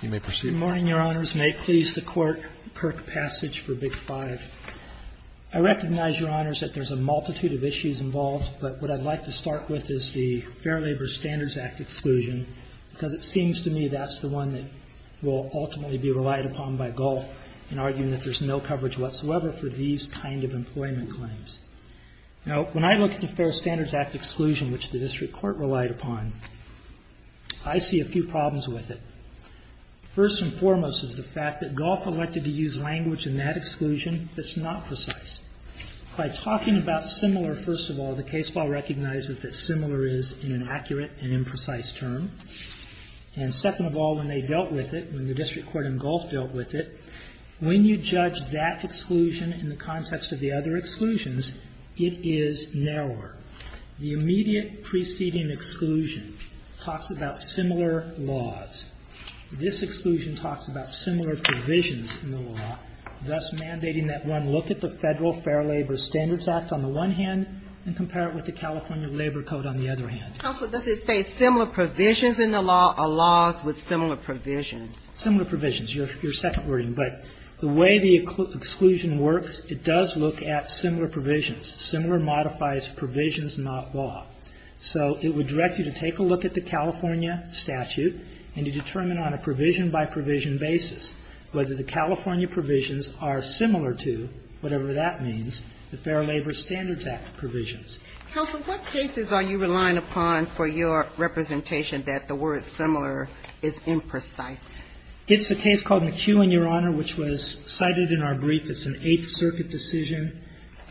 Good morning, Your Honors. May it please the Court, Kirk Passage for Big 5. I recognize, Your Honors, that there's a multitude of issues involved, but what I'd like to start with is the Fair Labor Standards Act exclusion, because it seems to me that's the one that will ultimately be relied upon by Gulf in arguing that there's no coverage whatsoever for these kind of employment claims. Now, when I look at the Fair Standards Act exclusion, which the District Court relied upon, I see a few problems with it. First and foremost is the fact that Gulf elected to use language in that exclusion that's not precise. By talking about similar, first of all, the case law recognizes that similar is an inaccurate and imprecise term. And second of all, when they dealt with it, when the District Court in Gulf dealt with it, when you judge that exclusion in the context of the other exclusions, it is narrower. The immediate preceding exclusion talks about similar laws. This exclusion talks about similar provisions in the law, thus mandating that one look at the Federal Fair Labor Standards Act on the one hand and compare it with the California Labor Code on the other hand. Sotomayor, does it say similar provisions in the law or laws with similar provisions? Similar provisions, your second wording. But the way the exclusion works, it does look at similar provisions. Similar modifies provisions, not law. So it would direct you to take a look at the California statute and to determine on a provision-by-provision basis whether the California provisions are similar to, whatever that means, the Fair Labor Standards Act provisions. Counsel, what cases are you relying upon for your representation that the word similar is imprecise? It's a case called McEwen, your Honor, which was cited in our brief. It's an Eighth Circuit decision.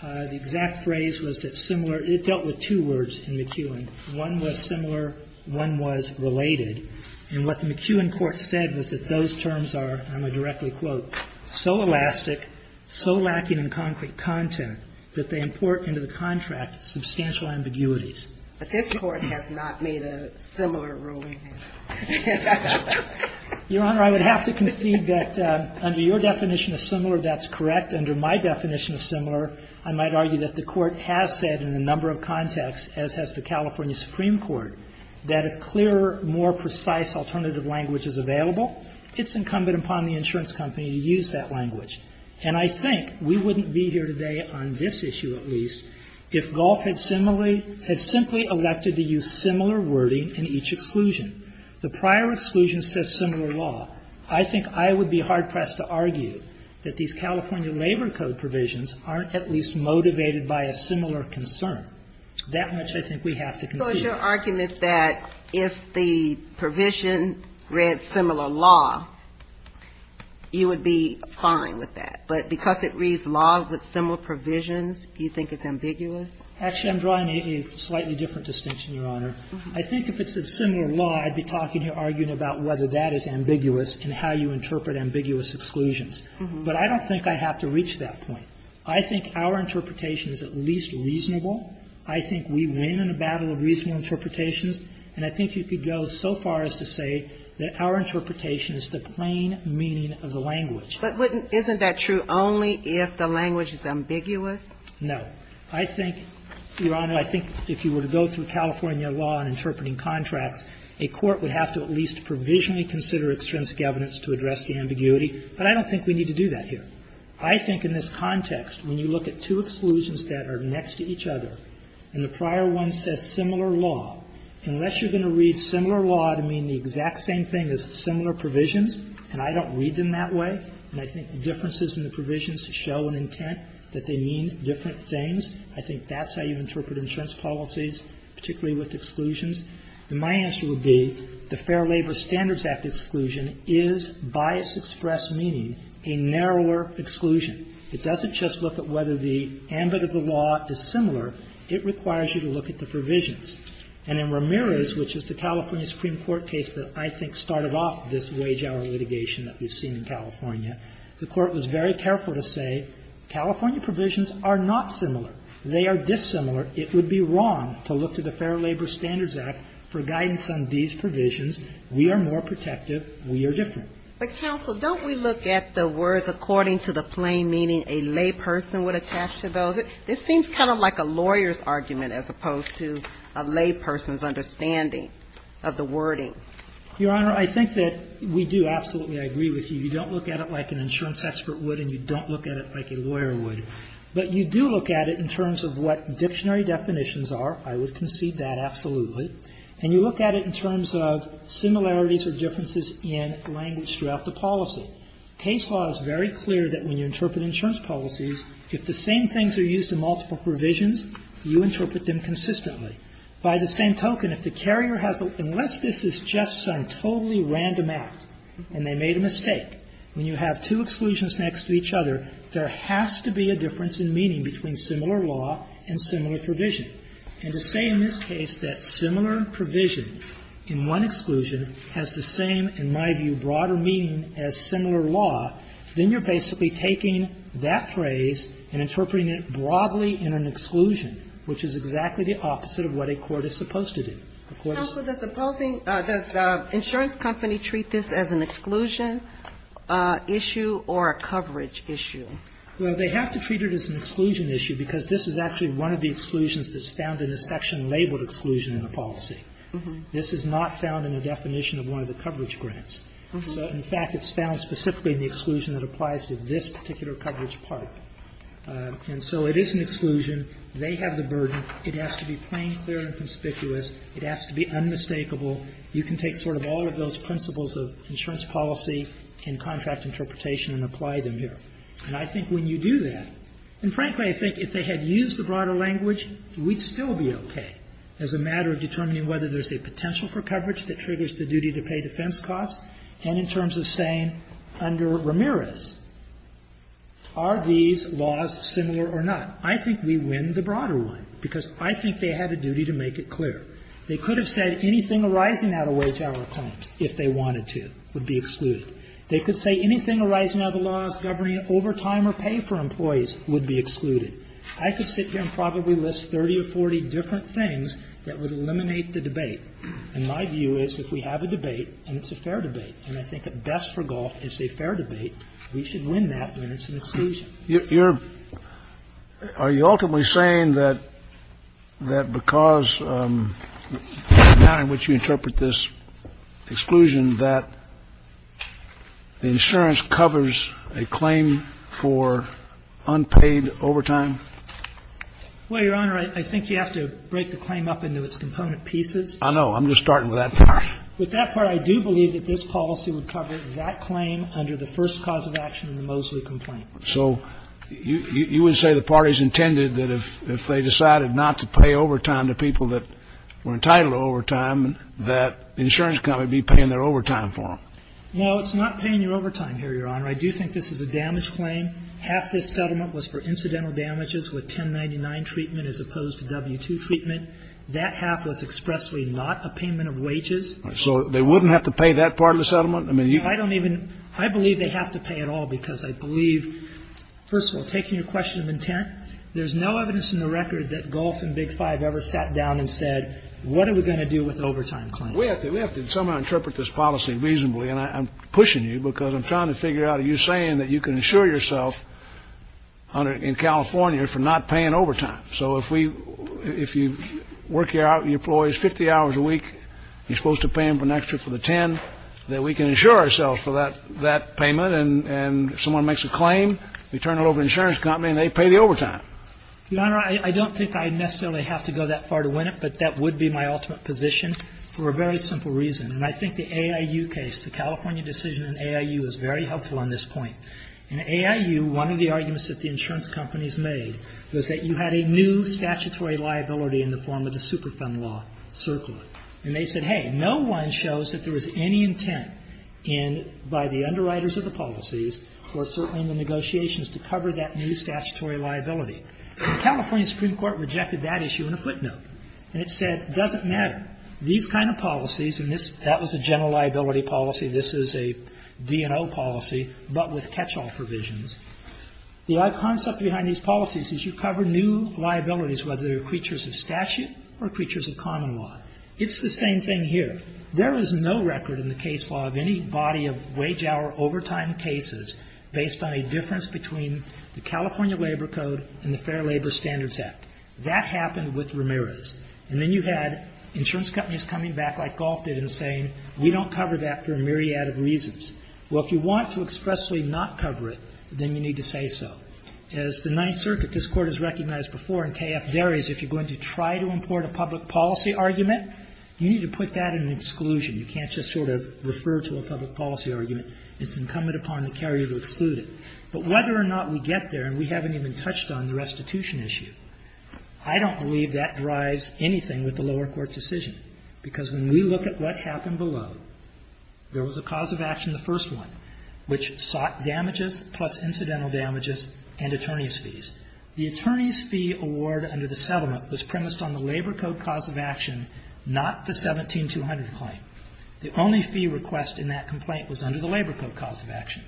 The exact phrase was that similar – it dealt with two words in McEwen. One was similar, one was related. And what the McEwen court said was that those terms are, and I'll directly quote, so elastic, so lacking in concrete content, that they import into the contract substantial ambiguities. But this Court has not made a similar ruling. Your Honor, I would have to concede that under your definition of similar, that's correct. Under my definition of similar, I might argue that the Court has said in a number of contexts, as has the California Supreme Court, that a clearer, more precise alternative language is available. It's incumbent upon the insurance company to use that language. And I think we wouldn't be here today on this issue, at least, if Gulf had similar – had simply elected to use similar wording in each exclusion. The prior exclusion says similar law. I think I would be hard-pressed to argue that these California labor code provisions aren't at least motivated by a similar concern. That much, I think, we have to concede. So it's your argument that if the provision read similar law, you would be fine with that. But because it reads law with similar provisions, you think it's ambiguous? Actually, I'm drawing a slightly different distinction, Your Honor. I think if it said similar law, I'd be talking here, arguing about whether that is ambiguous and how you interpret ambiguous exclusions. But I don't think I have to reach that point. I think our interpretation is at least reasonable. I think we win in a battle of reasonable interpretations. And I think you could go so far as to say that our interpretation is the plain meaning of the language. But wouldn't – isn't that true only if the language is ambiguous? No. I think, Your Honor, I think if you were to go through California law on interpreting contracts, a court would have to at least provisionally consider extrinsic evidence to address the ambiguity. But I don't think we need to do that here. I think in this context, when you look at two exclusions that are next to each other, and the prior one says similar law, unless you're going to read similar law to mean the exact same thing as similar provisions, and I don't read them that way, and I think the differences in the provisions show an intent that they mean different things, I think that's how you interpret insurance policies, particularly with exclusions. And my answer would be the Fair Labor Standards Act exclusion is bias express meaning a narrower exclusion. It doesn't just look at whether the ambit of the law is similar. It requires you to look at the provisions. And in Ramirez, which is the California Supreme Court case that I think started off this wage-hour litigation that we've seen in California, the Court was very careful to say California provisions are not similar. They are dissimilar. It would be wrong to look to the Fair Labor Standards Act for guidance on these provisions. We are more protective. We are different. But, counsel, don't we look at the words according to the plain meaning a layperson would attach to those? It seems kind of like a lawyer's argument as opposed to a layperson's understanding of the wording. Your Honor, I think that we do absolutely agree with you. You don't look at it like an insurance expert would and you don't look at it like a lawyer would. But you do look at it in terms of what dictionary definitions are. I would concede that absolutely. And you look at it in terms of similarities or differences in language throughout the policy. Case law is very clear that when you interpret insurance policies, if the same things are used in multiple provisions, you interpret them consistently. By the same token, if the carrier has a ---- unless this is just some totally random act and they made a mistake, when you have two exclusions next to each other, there has to be a difference in meaning between similar law and similar provision. And to say in this case that similar provision in one exclusion has the same, in my view, broader meaning as similar law, then you're basically taking that phrase and interpreting it broadly in an exclusion, which is exactly the opposite of what a court is supposed to do. The court is supposed to do. Does the insurance company treat this as an exclusion issue or a coverage issue? Well, they have to treat it as an exclusion issue because this is actually one of the exclusions that's found in the section labeled exclusion in the policy. This is not found in the definition of one of the coverage grants. So, in fact, it's found specifically in the exclusion that applies to this particular coverage part. And so it is an exclusion. They have the burden. It has to be plain, clear, and conspicuous. It has to be unmistakable. You can take sort of all of those principles of insurance policy and contract interpretation and apply them here. And I think when you do that, and frankly, I think if they had used the broader language, we'd still be okay as a matter of determining whether there's a potential for coverage that triggers the duty-to-pay defense costs. And in terms of saying under Ramirez, are these laws similar or not, I think we win the broader one, because I think they had a duty to make it clear. They could have said anything arising out of wage-hour claims, if they wanted to, would be excluded. They could say anything arising out of the laws governing overtime or pay for employees would be excluded. I could sit here and probably list 30 or 40 different things that would eliminate the debate. And my view is if we have a debate and it's a fair debate, and I think at best for golf it's a fair debate, we should win that when it's an exclusion. You're – are you ultimately saying that because the manner in which you interpret this exclusion that the insurance covers a claim for unpaid overtime? Well, Your Honor, I think you have to break the claim up into its component pieces. I know. I'm just starting with that part. With that part, I do believe that this policy would cover that claim under the first cause of action in the Mosley complaint. So you would say the parties intended that if they decided not to pay overtime to people that were entitled to overtime, that the insurance company would be paying their overtime for them? No, it's not paying your overtime here, Your Honor. I do think this is a damage claim. Half this settlement was for incidental damages with 1099 treatment as opposed to W-2 treatment. That half was expressly not a payment of wages. So they wouldn't have to pay that part of the settlement? I mean, you can't even – I don't even – I believe they have to pay it all because I believe, first of all, taking your question of intent, there's no evidence in the record that golf and Big Shot down and said, what are we going to do with the overtime claim? We have to – we have to somehow interpret this policy reasonably, and I'm pushing you because I'm trying to figure out – you're saying that you can insure yourself in California for not paying overtime. So if we – if you work your employees 50 hours a week, you're supposed to pay them an extra for the 10, that we can insure ourselves for that payment. And if someone makes a claim, we turn it over to the insurance company and they pay the overtime. Your Honor, I don't think I necessarily have to go that far to win it, but that would be my ultimate position for a very simple reason. And I think the AIU case, the California decision in AIU, is very helpful on this point. In AIU, one of the arguments that the insurance companies made was that you had a new statutory liability in the form of the Superfund law, CERCLA. And they said, hey, no one shows that there was any intent in – by the underwriters of the policies, or certainly in the negotiations, to cover that new statutory liability. And California Supreme Court rejected that issue in a footnote. And it said, it doesn't matter. These kind of policies – and this – that was a general liability policy. This is a D&O policy, but with catch-all provisions. The odd concept behind these policies is you cover new liabilities, whether they're creatures of statute or creatures of common law. It's the same thing here. There is no record in the case law of any body of wage-hour overtime cases based on a difference between the California Labor Code and the Fair Labor Standards Act. That happened with Ramirez. And then you had insurance companies coming back, like Goff did, and saying, we don't cover that for a myriad of reasons. Well, if you want to expressly not cover it, then you need to say so. As the Ninth Circuit, this Court has recognized before, and K.F. Darries, if you're going to try to import a public policy argument, you need to put that in an exclusion. You can't just sort of refer to a public policy argument. It's incumbent upon the carrier to exclude it. But whether or not we get there, and we haven't even touched on the restitution issue, I don't believe that drives anything with the lower court decision, because when we look at what happened below, there was a cause of action, the first one, which sought damages plus incidental damages and attorney's fees. The attorney's fee award under the settlement was premised on the Labor Code cause of action, not the 17-200 claim. The only fee request in that complaint was under the Labor Code cause of action.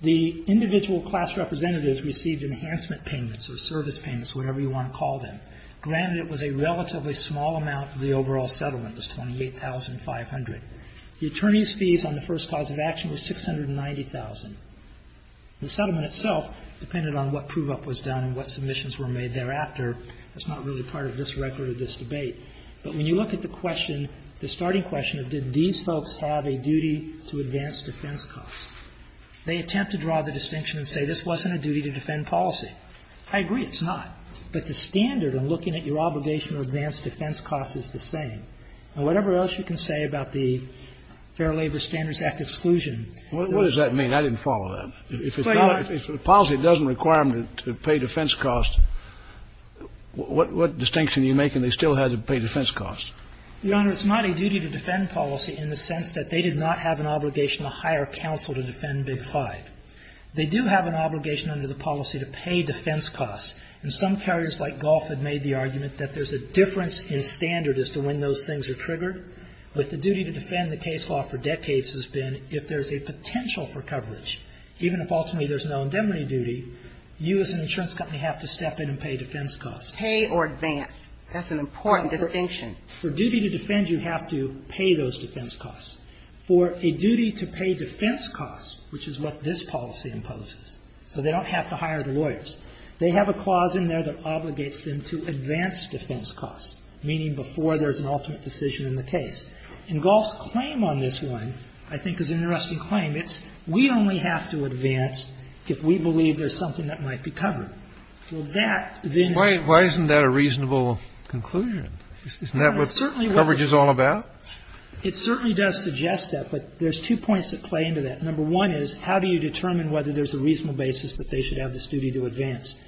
The individual class representatives received enhancement payments or service payments, whatever you want to call them. Granted, it was a relatively small amount of the overall settlement, just $28,500. The attorney's fees on the first cause of action was $690,000. The settlement itself depended on what prove-up was done and what submissions were made thereafter. That's not really part of this record or this debate. But when you look at the question, the starting question of did these folks have a duty to advance defense costs, they attempt to draw the distinction and say this wasn't a duty to defend policy. I agree, it's not. But the standard in looking at your obligation to advance defense costs is the same. And whatever else you can say about the Fair Labor Standards Act exclusion. Scalia. What does that mean? I didn't follow that. If a policy doesn't require them to pay defense costs, what distinction do you make in they still had to pay defense costs? Your Honor, it's not a duty to defend policy in the sense that they did not have an obligation to hire counsel to defend Big Five. They do have an obligation under the policy to pay defense costs. And some carriers like Gulf have made the argument that there's a difference in standard as to when those things are triggered. But the duty to defend the case law for decades has been if there's a potential for coverage, even if ultimately there's no indemnity duty, you as an insurance company have to step in and pay defense costs. Pay or advance. That's an important distinction. For duty to defend, you have to pay those defense costs. For a duty to pay defense costs, which is what this policy imposes, so they don't have to hire the lawyers, they have a clause in there that obligates them to advance defense costs, meaning before there's an ultimate decision in the case. And Gulf's claim on this one, I think, is an interesting claim. It's we only have to advance if we believe there's something that might be covered. Well, that then why isn't that a reasonable conclusion? Isn't that what coverage is all about? It certainly does suggest that, but there's two points that play into that. Number one is how do you determine whether there's a reasonable basis that they should have this duty to advance?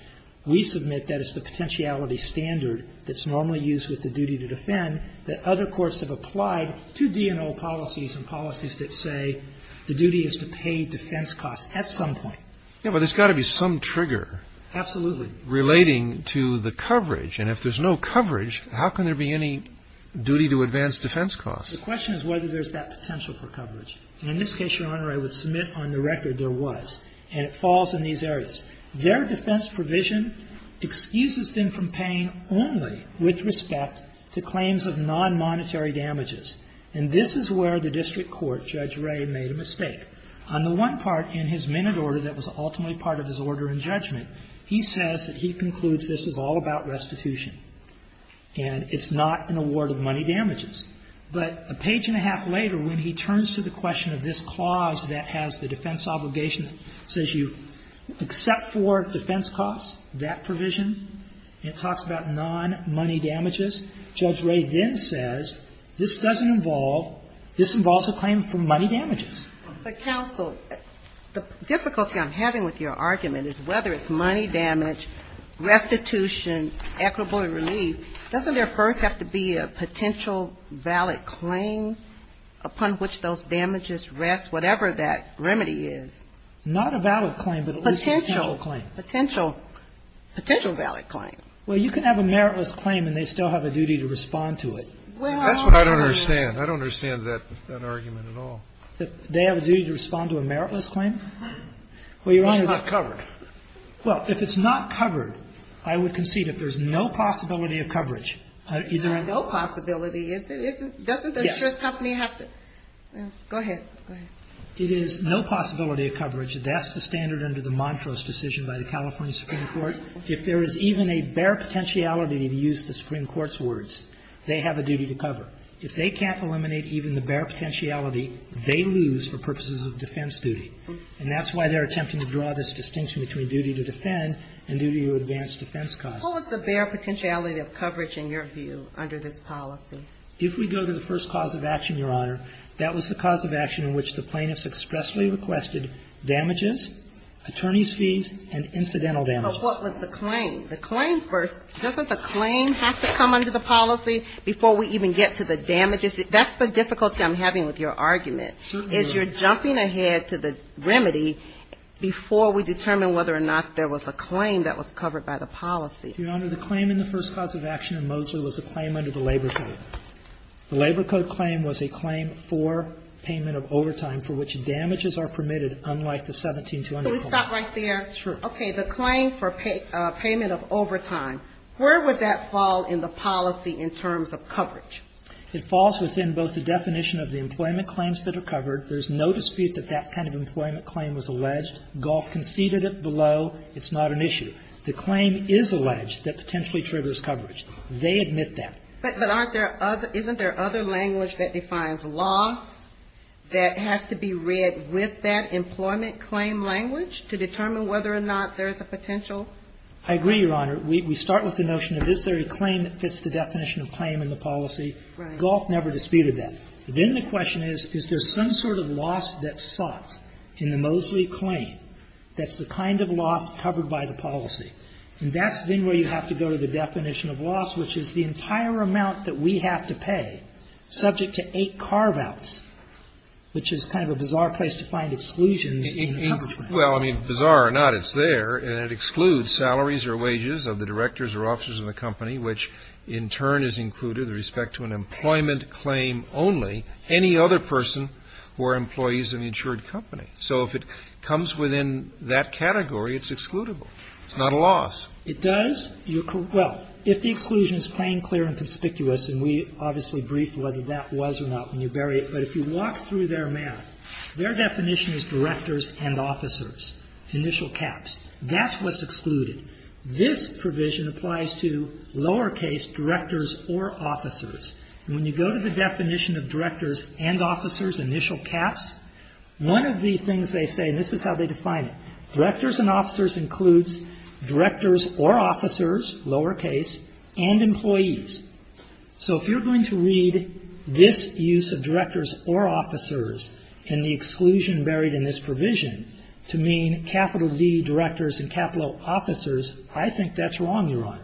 We submit that it's the potentiality standard that's normally used with the duty to defend that other courts have applied to D&O policies and policies that say the duty is to pay defense costs at some point. Yeah, but there's got to be some trigger relating to the coverage. And if there's no coverage, how can there be any duty to advance defense costs? The question is whether there's that potential for coverage. And in this case, Your Honor, I would submit on the record there was. And it falls in these areas. Their defense provision excuses them from paying only with respect to claims of nonmonetary damages. And this is where the district court, Judge Ray, made a mistake. On the one part in his minute order that was ultimately part of his order in judgment, he says that he concludes this is all about restitution and it's not an award of money damages. But a page and a half later, when he turns to the question of this clause that has the defense obligation, it says you except for defense costs, that provision, it talks about nonmoney damages. Judge Ray then says this doesn't involve, this involves a claim for money damages. But counsel, the difficulty I'm having with your argument is whether it's money damage, restitution, equitable relief, doesn't there first have to be a potential valid claim upon which those damages rest, whatever that remedy is? Not a valid claim, but a potential claim. Potential, potential valid claim. Well, you can have a meritless claim and they still have a duty to respond to it. That's what I don't understand. I don't understand that argument at all. They have a duty to respond to a meritless claim? Well, Your Honor, if it's not covered, I would concede if there's no possibility of coverage, that's the standard under the Montrose decision by the California Supreme Court. If there is even a bare potentiality, to use the Supreme Court's words, they have a duty to cover. If they can't eliminate even the bare potentiality, they lose for purposes of defense duty. And that's why they're attempting to draw this distinction between duty to defend and duty to advance defense costs. What was the bare potentiality of coverage, in your view, under this policy? If we go to the first cause of action, Your Honor, that was the cause of action in which the plaintiffs expressly requested damages, attorney's fees, and incidental damages. But what was the claim? The claim first. Doesn't the claim have to come under the policy before we even get to the damages? That's the difficulty I'm having with your argument, is you're jumping ahead to the remedy before we determine whether or not there was a claim that was covered by the policy. Your Honor, the claim in the first cause of action in Mosler was a claim under the Labor Code. The Labor Code claim was a claim for payment of overtime for which damages are permitted unlike the 1720 claim. So we stop right there? Sure. Okay. The claim for payment of overtime, where would that fall in the policy in terms of coverage? It falls within both the definition of the employment claims that are covered. There's no dispute that that kind of employment claim was alleged. GOLF conceded it below. It's not an issue. The claim is alleged that potentially triggers coverage. They admit that. But aren't there other — isn't there other language that defines loss that has to be read with that employment claim language to determine whether or not there is a potential? I agree, Your Honor. We start with the notion of is there a claim that fits the definition of claim in the policy. Right. GOLF never disputed that. Then the question is, is there some sort of loss that's sought in the Mosley claim that's the kind of loss covered by the policy? And that's then where you have to go to the definition of loss, which is the entire amount that we have to pay, subject to eight carve-outs, which is kind of a bizarre place to find exclusions in the coverage. Well, I mean, bizarre or not, it's there, and it excludes salaries or wages of the directors or officers of the company, which in turn is included with respect to an employment claim only, any other person who are employees of the insured company. So if it comes within that category, it's excludable. It's not a loss. It does. Well, if the exclusion is plain, clear and conspicuous, and we obviously briefed whether that was or not when you bury it, but if you walk through their math, their definition is directors and officers, initial caps. That's what's excluded. This provision applies to lowercase directors or officers. When you go to the definition of directors and officers, initial caps, one of the things they say, and this is how they define it, directors and officers includes directors or officers, lowercase, and employees. So if you're going to read this use of directors or officers in the exclusion buried in this provision to mean capital D directors and capital officers, I think that's wrong, Yaron.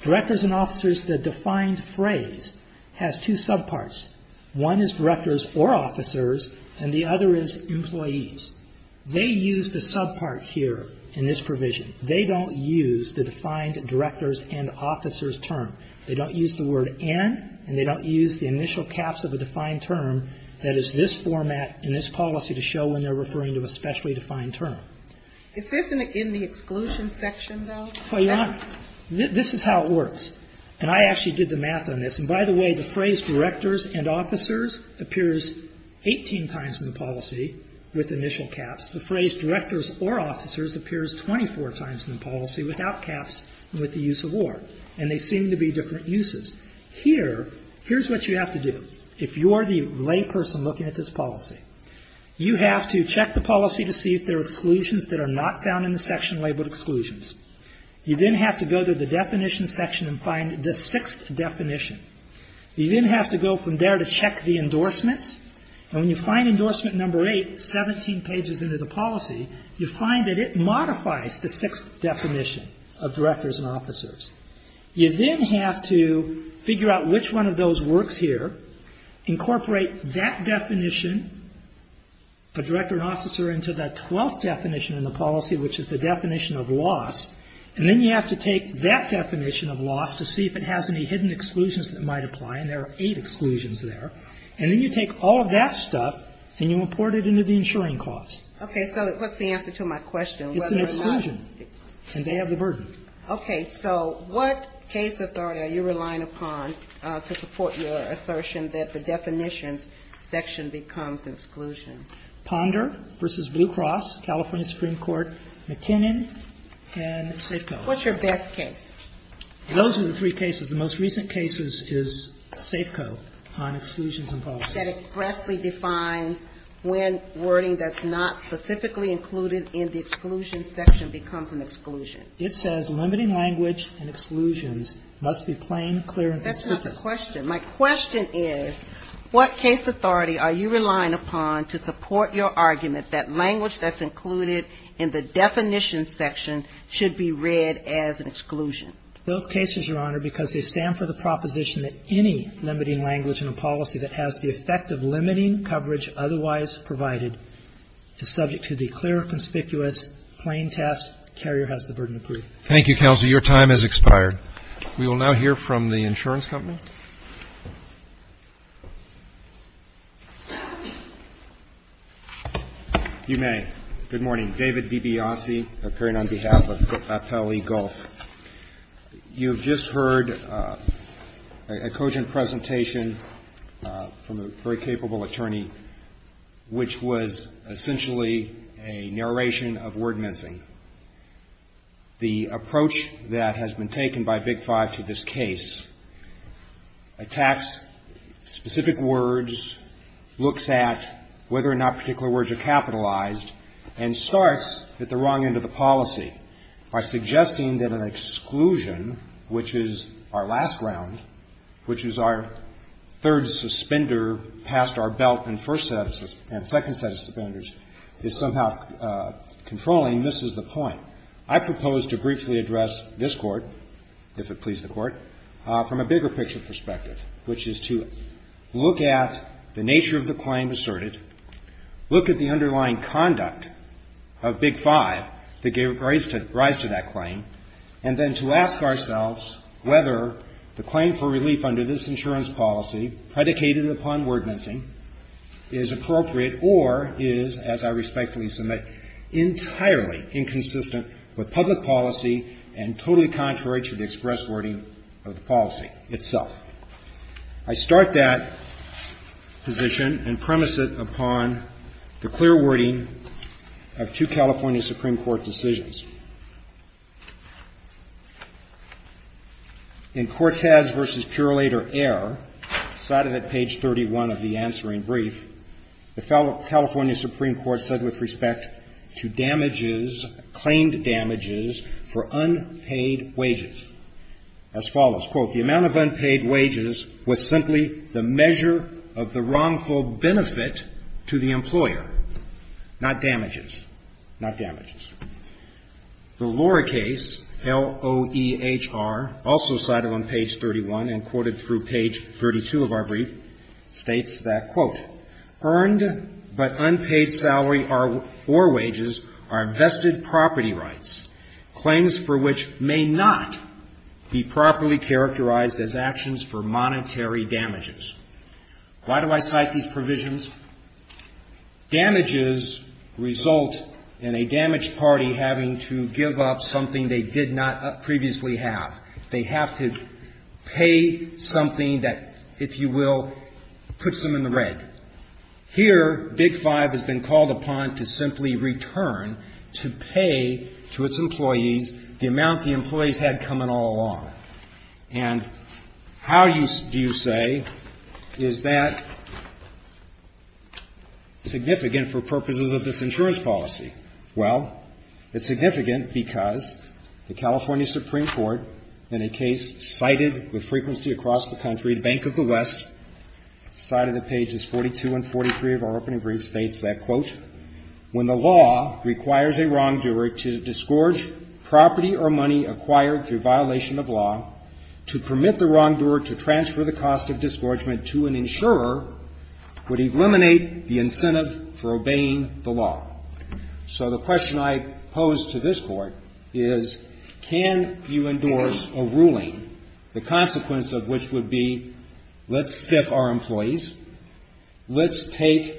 Directors and officers, the defined phrase, has two subparts. One is directors or officers, and the other is employees. They use the subpart here in this provision. They don't use the defined directors and officers term. They don't use the word and, and they don't use the initial caps of a defined term that is this format in this policy to show when they're referring to a specially defined term. Is this in the exclusion section, though? Well, Yaron, this is how it works, and I actually did the math on this. And by the way, the phrase directors and officers appears 18 times in the policy with initial caps. The phrase directors or officers appears 24 times in the policy without caps and with the use of or, and they seem to be different uses. Here, here's what you have to do. If you're the lay person looking at this policy, you have to check the policy to see if there are exclusions that are not found in the section labeled exclusions. You then have to go to the definition section and find the sixth definition. You then have to go from there to check the endorsements. And when you find endorsement number eight, 17 pages into the policy, you find that it modifies the sixth definition of directors and officers. You then have to figure out which one of those works here, incorporate that definition, a director and officer into that twelfth definition in the policy, which is the definition of loss. And then you have to take that definition of loss to see if it has any hidden exclusions that might apply, and there are eight exclusions there. And then you take all of that stuff and you import it into the insuring clause. Okay, so what's the answer to my question? It's an exclusion, and they have the burden. Okay, so what case authority are you relying upon to support your assertion that the definitions section becomes exclusion? Ponder versus Blue Cross, California Supreme Court, McKinnon, and Safeco. What's your best case? Those are the three cases. The most recent case is Safeco on exclusions in policy. That expressly defines when wording that's not specifically included in the exclusion section becomes an exclusion. It says limiting language and exclusions must be plain, clear, and constructive. That's not the question. My question is, what case authority are you relying upon to support your argument that language that's included in the definition section should be read as an exclusion? Those cases, Your Honor, because they stand for the proposition that any limiting language in a policy that has the effect of limiting coverage otherwise provided is subject to the clear, conspicuous, plain test, the carrier has the burden of proof. Thank you, counsel. Your time has expired. We will now hear from the insurance company. You may. Good morning. David DiBiase, occurring on behalf of Papel eGolf. You have just heard a cogent presentation from a very capable attorney, which was essentially a narration of word mincing. The approach that has been taken by Big Five to this case attacks specific words, looks at whether or not particular words are capitalized, and starts at the wrong end of the policy by suggesting that an exclusion, which is our last round, which is our third suspender past our belt and second set of suspenders, is somehow controlling, misses the point. I propose to briefly address this Court, if it pleases the Court, from a bigger picture perspective, which is to look at the nature of the claim asserted, look at the underlying conduct of Big Five that gave rise to that claim, and then to ask ourselves whether the claim for relief under this insurance policy predicated upon word mincing is appropriate or is, as I respectfully submit, entirely inconsistent with public policy and totally contrary to the express wording of the policy itself. I start that position and premise it upon the clear wording of two California Supreme Court decisions. In Cortez v. Purillator Air, cited at page 31 of the answering brief, the California Supreme Court said with respect to damages, claimed damages, for unpaid wages as follows, quote, the amount of unpaid wages was simply the measure of the wrongful benefit to the employer, not damages, not damages. The Lohr case, L-O-H-R, also cited on page 31 and quoted through page 32 of our brief, states that, quote, earned but unpaid salary or wages are vested property rights, claims for which may not be properly characterized as actions for monetary damages. Why do I cite these provisions? Damages result in a damaged party having to give up something they did not previously have. They have to pay something that, if you will, puts them in the red. Here, Big Five has been called upon to simply return to pay to its employees the amount the employees had coming all along. And how do you say is that significant for purposes of this insurance policy? Well, it's significant because the California Supreme Court, in a case cited with 42 and 43 of our opening brief, states that, quote, when the law requires a wrongdoer to disgorge property or money acquired through violation of law, to permit the wrongdoer to transfer the cost of disgorgement to an insurer would eliminate the incentive for obeying the law. So the question I pose to this Court is, can you endorse a ruling, the consequence of which would be, let's stiff our employees, let's take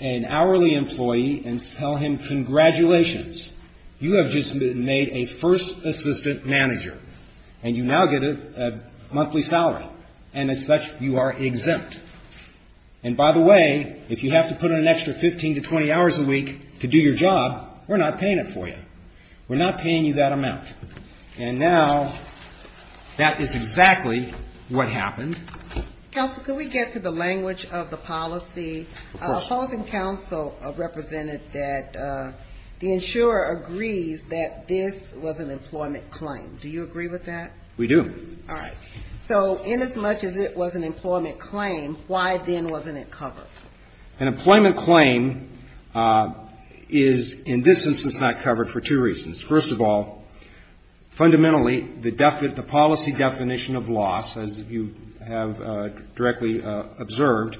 an hourly employee and tell him, congratulations, you have just made a first assistant manager, and you now get a monthly salary, and as such, you are exempt. And by the way, if you have to put in an extra 15 to 20 hours a week to do your job, we're not paying it for you. We're not paying you that amount. And now that is exactly what happened. Counsel, can we get to the language of the policy? Of course. A policy council represented that the insurer agrees that this was an employment claim. Do you agree with that? We do. All right. So inasmuch as it was an employment claim, why then wasn't it covered? An employment claim is, in this instance, not covered for two reasons. First of all, fundamentally, the policy definition of loss, as you have directly observed,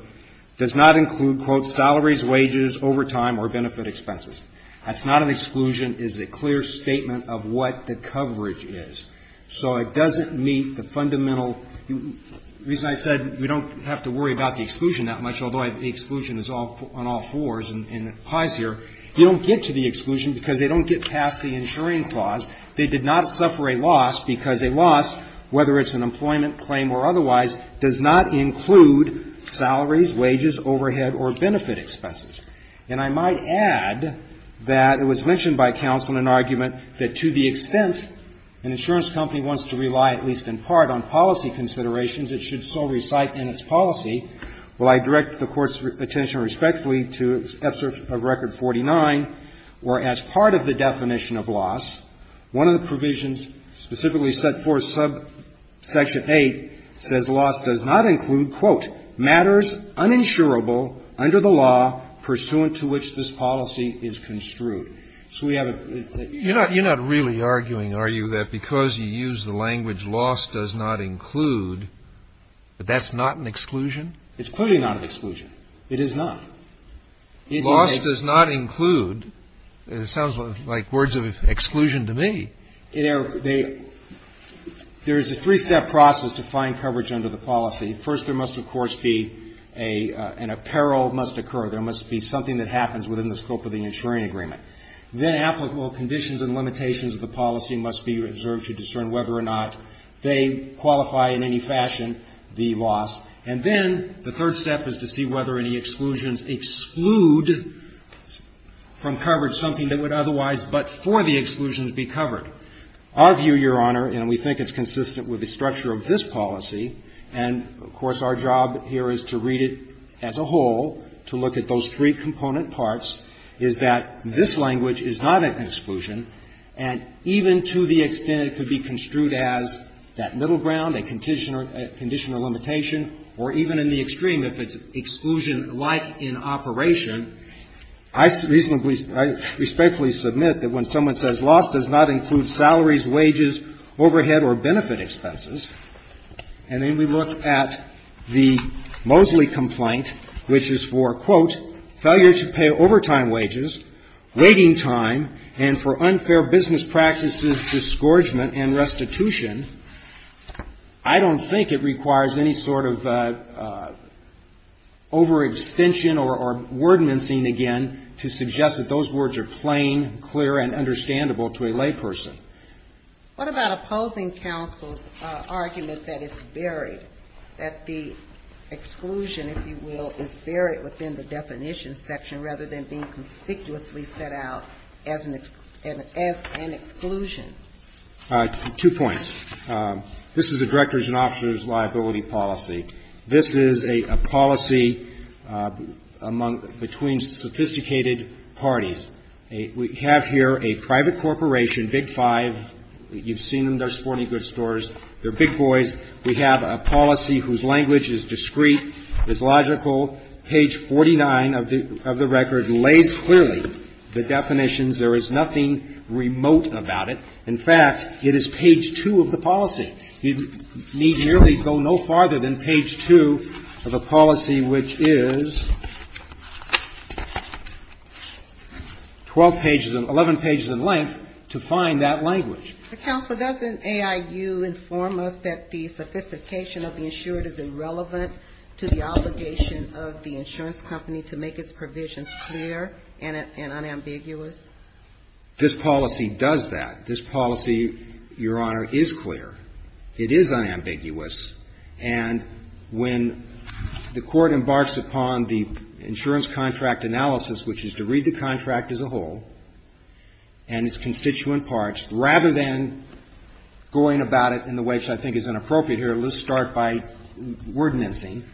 does not include, quote, salaries, wages, overtime, or benefit expenses. That's not an exclusion. It is a clear statement of what the coverage is. So it doesn't meet the fundamental reason I said we don't have to worry about the exclusion that much, although the exclusion is on all fours and pies here. You don't get to the exclusion because they don't get past the insuring clause. They did not suffer a loss because a loss, whether it's an employment claim or otherwise, does not include salaries, wages, overhead, or benefit expenses. And I might add that it was mentioned by counsel in an argument that to the extent an insurance company wants to rely, at least in part, on policy considerations, it should so recite in its policy. Well, I direct the Court's attention respectfully to excerpt of Record 49, where as part of the definition of loss, one of the provisions specifically set forth subsection 8 says loss does not include, quote, matters uninsurable under the law pursuant to which this policy is construed. So we have a ---- You're not really arguing, are you, that because you use the language loss does not include, that that's not an exclusion? It's clearly not an exclusion. It is not. Loss does not include. It sounds like words of exclusion to me. There is a three-step process to find coverage under the policy. First, there must, of course, be an apparel must occur. There must be something that happens within the scope of the insuring agreement. Then applicable conditions and limitations of the policy must be reserved to discern whether or not they qualify in any fashion the loss. And then the third step is to see whether any exclusions exclude from coverage something that would otherwise but for the exclusions be covered. Our view, Your Honor, and we think it's consistent with the structure of this policy, and, of course, our job here is to read it as a whole, to look at those three component parts, is that this language is not an exclusion. And even to the extent it could be construed as that middle ground, a condition or limitation, or even in the extreme, if it's exclusion-like in operation, I reasonably, I respectfully submit that when someone says loss does not include salaries, wages, overhead or benefit expenses, and then we look at the Mosley complaint, which is for, quote, failure to pay overtime wages, waiting time, and for unfair business practices, disgorgement and restitution, I don't think it requires any sort of overextension or word mincing, again, to suggest that those words are plain, clear and understandable to a layperson. What about opposing counsel's argument that it's buried, that the exclusion, if you will, is buried within the definition section rather than being conspicuously set out as an exclusion? Two points. This is a director's and officer's liability policy. This is a policy among, between sophisticated parties. We have here a private corporation, Big Five. You've seen them. They're sporting goods stores. They're big boys. We have a policy whose language is discreet, is logical. Page 49 of the record lays clearly the definitions. There is nothing remote about it. In fact, it is page 2 of the policy. You need merely go no farther than page 2 of the policy, which is 12 pages, 11 pages in length, to find that language. Counsel, doesn't AIU inform us that the sophistication of the insured is irrelevant to the obligation of the insurance company to make its provisions clear and unambiguous? This policy does that. This policy, Your Honor, is clear. It is unambiguous. And when the Court embarks upon the insurance contract analysis, which is to read the contract as a whole and its constituent parts, rather than going about it in the which I think is inappropriate here, let's start by wordnessing,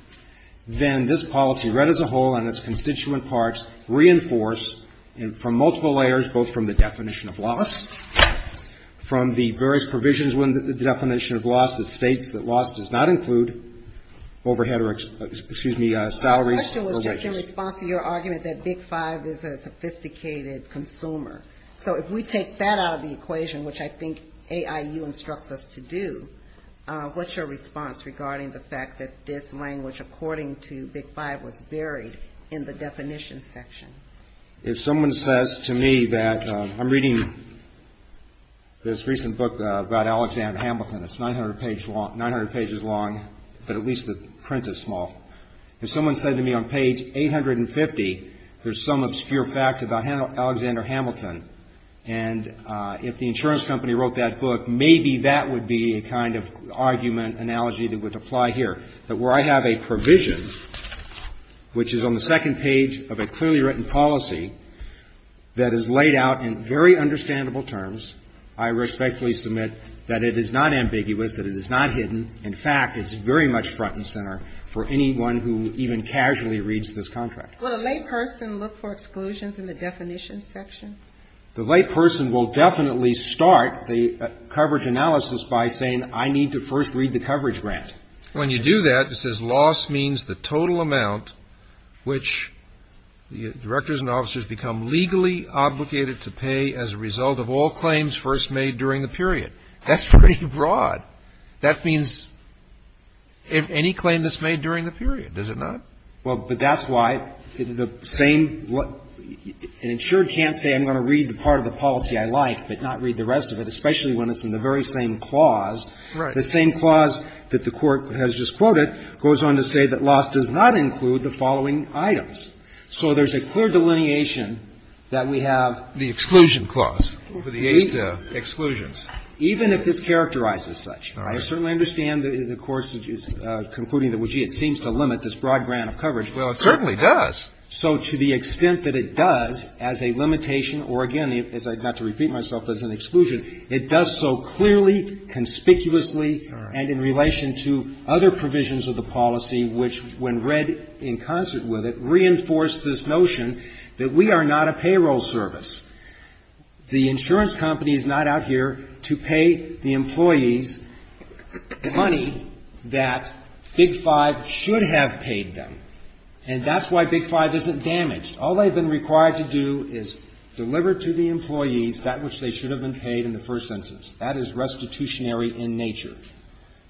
then this policy read as a whole and its constituent parts reinforce from multiple layers, both from the definition of loss, from the various provisions within the definition of loss that states that loss does not include overhead or, excuse me, salaries or wages. My question was just in response to your argument that Big Five is a sophisticated consumer. So if we take that out of the equation, which I think AIU instructs us to do, what's your response regarding the fact that this language according to Big Five was buried in the definition section? If someone says to me that I'm reading this recent book about Alexander Hamilton. It's 900 pages long, but at least the print is small. If someone said to me on page 850, there's some obscure fact about Alexander Hamilton, and if the insurance company wrote that book, maybe that would be a kind of argument, analogy that would apply here. But where I have a provision, which is on the second page of a clearly written policy that is laid out in very understandable terms, I respectfully submit that it is not ambiguous, that it is not hidden. In fact, it's very much front and center for anyone who even casually reads this contract. Would a layperson look for exclusions in the definition section? The layperson will definitely start the coverage analysis by saying I need to first read the coverage grant. When you do that, it says loss means the total amount which the directors and officers become legally obligated to pay as a result of all claims first made during the period. That's pretty broad. That means any claim that's made during the period, is it not? Well, but that's why the same – an insured can't say I'm going to read the part of the policy I like but not read the rest of it, especially when it's in the very same clause. Right. The same clause that the Court has just quoted goes on to say that loss does not include the following items. So there's a clear delineation that we have the exclusion clause. For the eight exclusions. Even if it's characterized as such. I certainly understand the Court's concluding that, well, gee, it seems to limit this broad grant of coverage. Well, it certainly does. So to the extent that it does as a limitation or, again, not to repeat myself, as an exclusion, it does so clearly, conspicuously, and in relation to other provisions of the policy which, when read in concert with it, reinforce this notion that we are not a payroll service. The insurance company is not out here to pay the employees money that Big Five should have paid them. And that's why Big Five isn't damaged. All they've been required to do is deliver to the employees that which they should have been paid in the first instance. That is restitutionary in nature.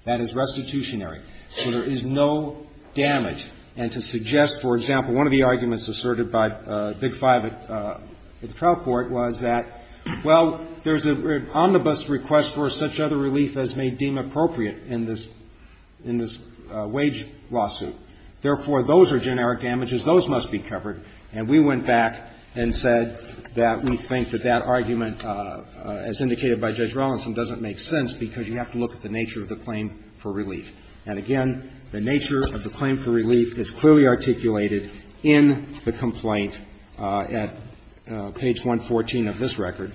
That is restitutionary. So there is no damage. And to suggest, for example, one of the arguments asserted by Big Five at the trial court was that, well, there's an omnibus request for such other relief as may deem appropriate in this wage lawsuit. Therefore, those are generic damages. Those must be covered. And we went back and said that we think that that argument, as indicated by Judge Robinson, doesn't make sense because you have to look at the nature of the claim for relief. And, again, the nature of the claim for relief is clearly articulated in the complaint at page 114 of this record.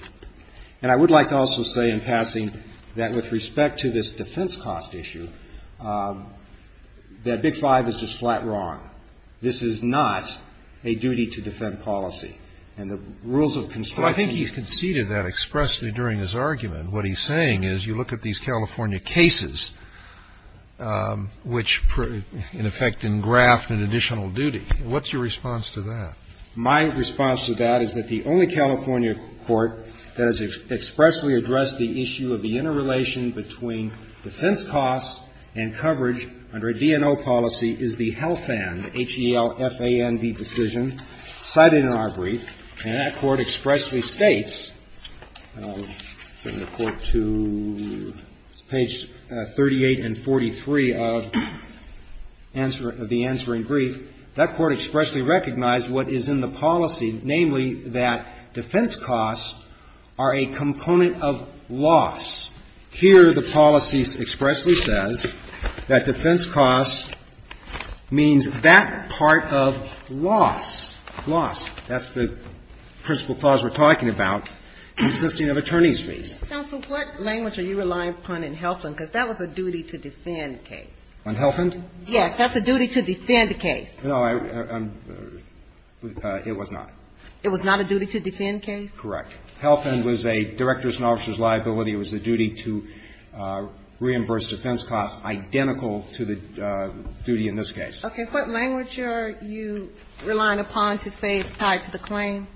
And I would like to also say in passing that with respect to this defense cost issue, that Big Five is just flat wrong. This is not a duty-to-defend policy. And the rules of construction ---- So what he's saying is you look at these California cases which, in effect, engraft an additional duty. What's your response to that? My response to that is that the only California court that has expressly addressed the issue of the interrelation between defense costs and coverage under a DNO policy is the HELFAND, H-E-L-F-A-N-D decision cited in our brief. And that court expressly states, and I'll turn the Court to page 38 and 43 of the answering brief, that court expressly recognized what is in the policy, namely, that defense costs are a component of loss. Here the policy expressly says that defense costs means that part of loss, loss, that's the principle clause we're talking about, consisting of attorney's fees. Counsel, what language are you relying upon in HELFAND? Because that was a duty-to-defend case. On HELFAND? Yes. That's a duty-to-defend case. No, I'm ---- it was not. It was not a duty-to-defend case? Correct. HELFAND was a director's and officer's liability. It was a duty to reimburse defense costs identical to the duty in this case. Okay. What language are you relying upon to say it's tied to the claim?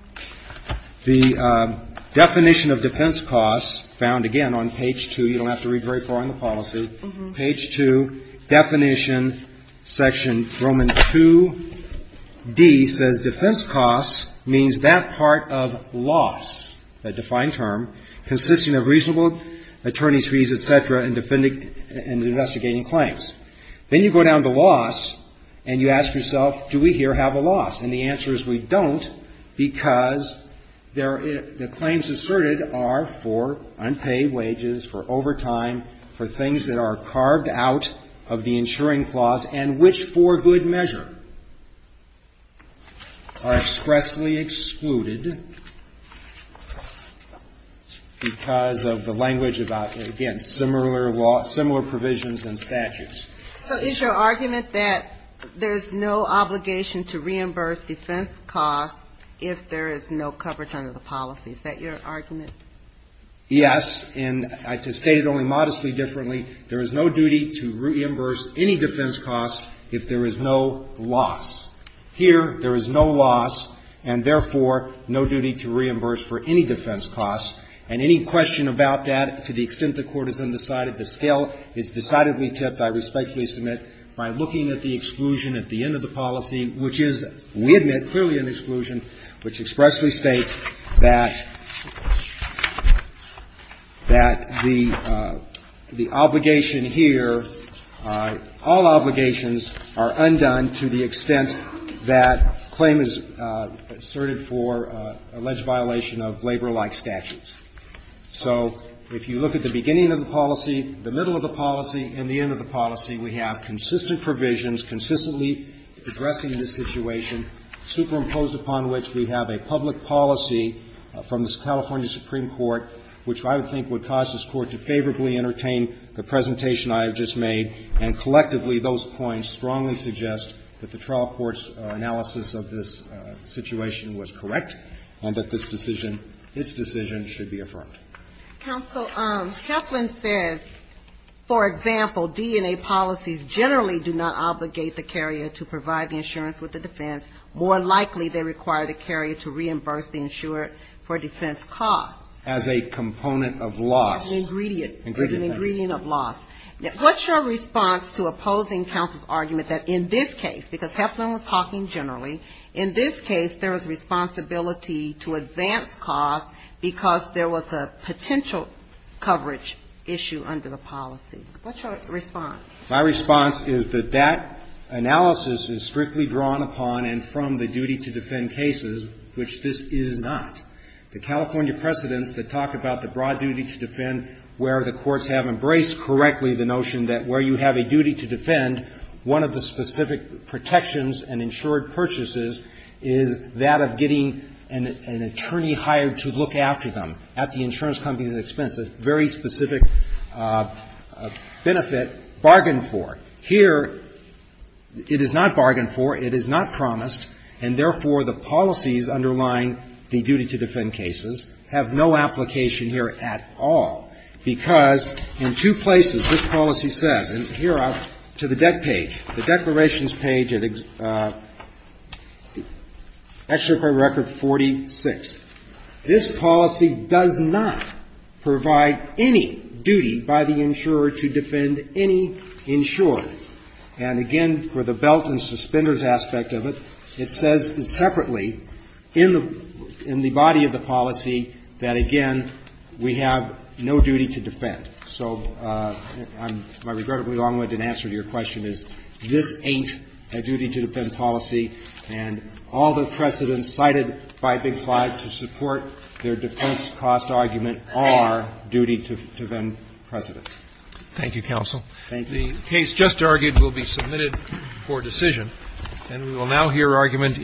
The definition of defense costs found, again, on page 2. You don't have to read very far in the policy. Page 2, definition, section Roman 2D says defense costs means that part of loss, that defined term, consisting of reasonable attorney's fees, et cetera, and investigating claims. Then you go down to loss and you ask yourself, do we here have a loss? And the answer is we don't, because the claims asserted are for unpaid wages, for overtime, for things that are carved out of the insuring clause, and which for good measure are expressly excluded because of the language about, again, similar provisions and statutes. So is your argument that there's no obligation to reimburse defense costs if there is no coverage under the policy? Is that your argument? Yes. And I just state it only modestly differently. There is no duty to reimburse any defense costs if there is no loss. Here, there is no loss and, therefore, no duty to reimburse for any defense costs. And any question about that, to the extent the Court has undecided, the scale is decidedly different, except I respectfully submit, by looking at the exclusion at the end of the policy, which is, we admit, clearly an exclusion, which expressly states that the obligation here, all obligations are undone to the extent that claim is asserted for alleged violation of labor-like statutes. So if you look at the beginning of the policy, the middle of the policy, and the end of the policy, we have consistent provisions consistently addressing this situation, superimposed upon which we have a public policy from the California Supreme Court, which I would think would cause this Court to favorably entertain the presentation I have just made. And collectively, those points strongly suggest that the trial court's analysis of this situation was correct, and that this decision, this decision should be affirmed. Counsel, Heflin says, for example, DNA policies generally do not obligate the carrier to provide the insurance with the defense. More likely, they require the carrier to reimburse the insured for defense costs. As a component of loss. As an ingredient. Ingredient. As an ingredient of loss. What's your response to opposing counsel's argument that in this case, because there was responsibility to advance costs because there was a potential coverage issue under the policy? What's your response? My response is that that analysis is strictly drawn upon and from the duty to defend cases, which this is not. The California precedents that talk about the broad duty to defend where the courts have embraced correctly the notion that where you have a duty to defend, one of the specific protections in insured purchases is that of getting an attorney hired to look after them at the insurance company's expense, a very specific benefit bargained for. Here, it is not bargained for. It is not promised. And therefore, the policies underlying the duty to defend cases have no application here at all. Because in two places, this policy says, and here to the deck page, the declarations page at Excerpt from Record 46. This policy does not provide any duty by the insurer to defend any insured. And again, for the belt and suspenders aspect of it, it says separately in the body of the policy that, again, we have no duty to defend. So my regrettably long-winded answer to your question is this ain't a duty to defend policy, and all the precedents cited by Big Five to support their defense cost argument are duty to defend precedents. Thank you, counsel. Thank you. The case just argued will be submitted for decision, and we will now hear argument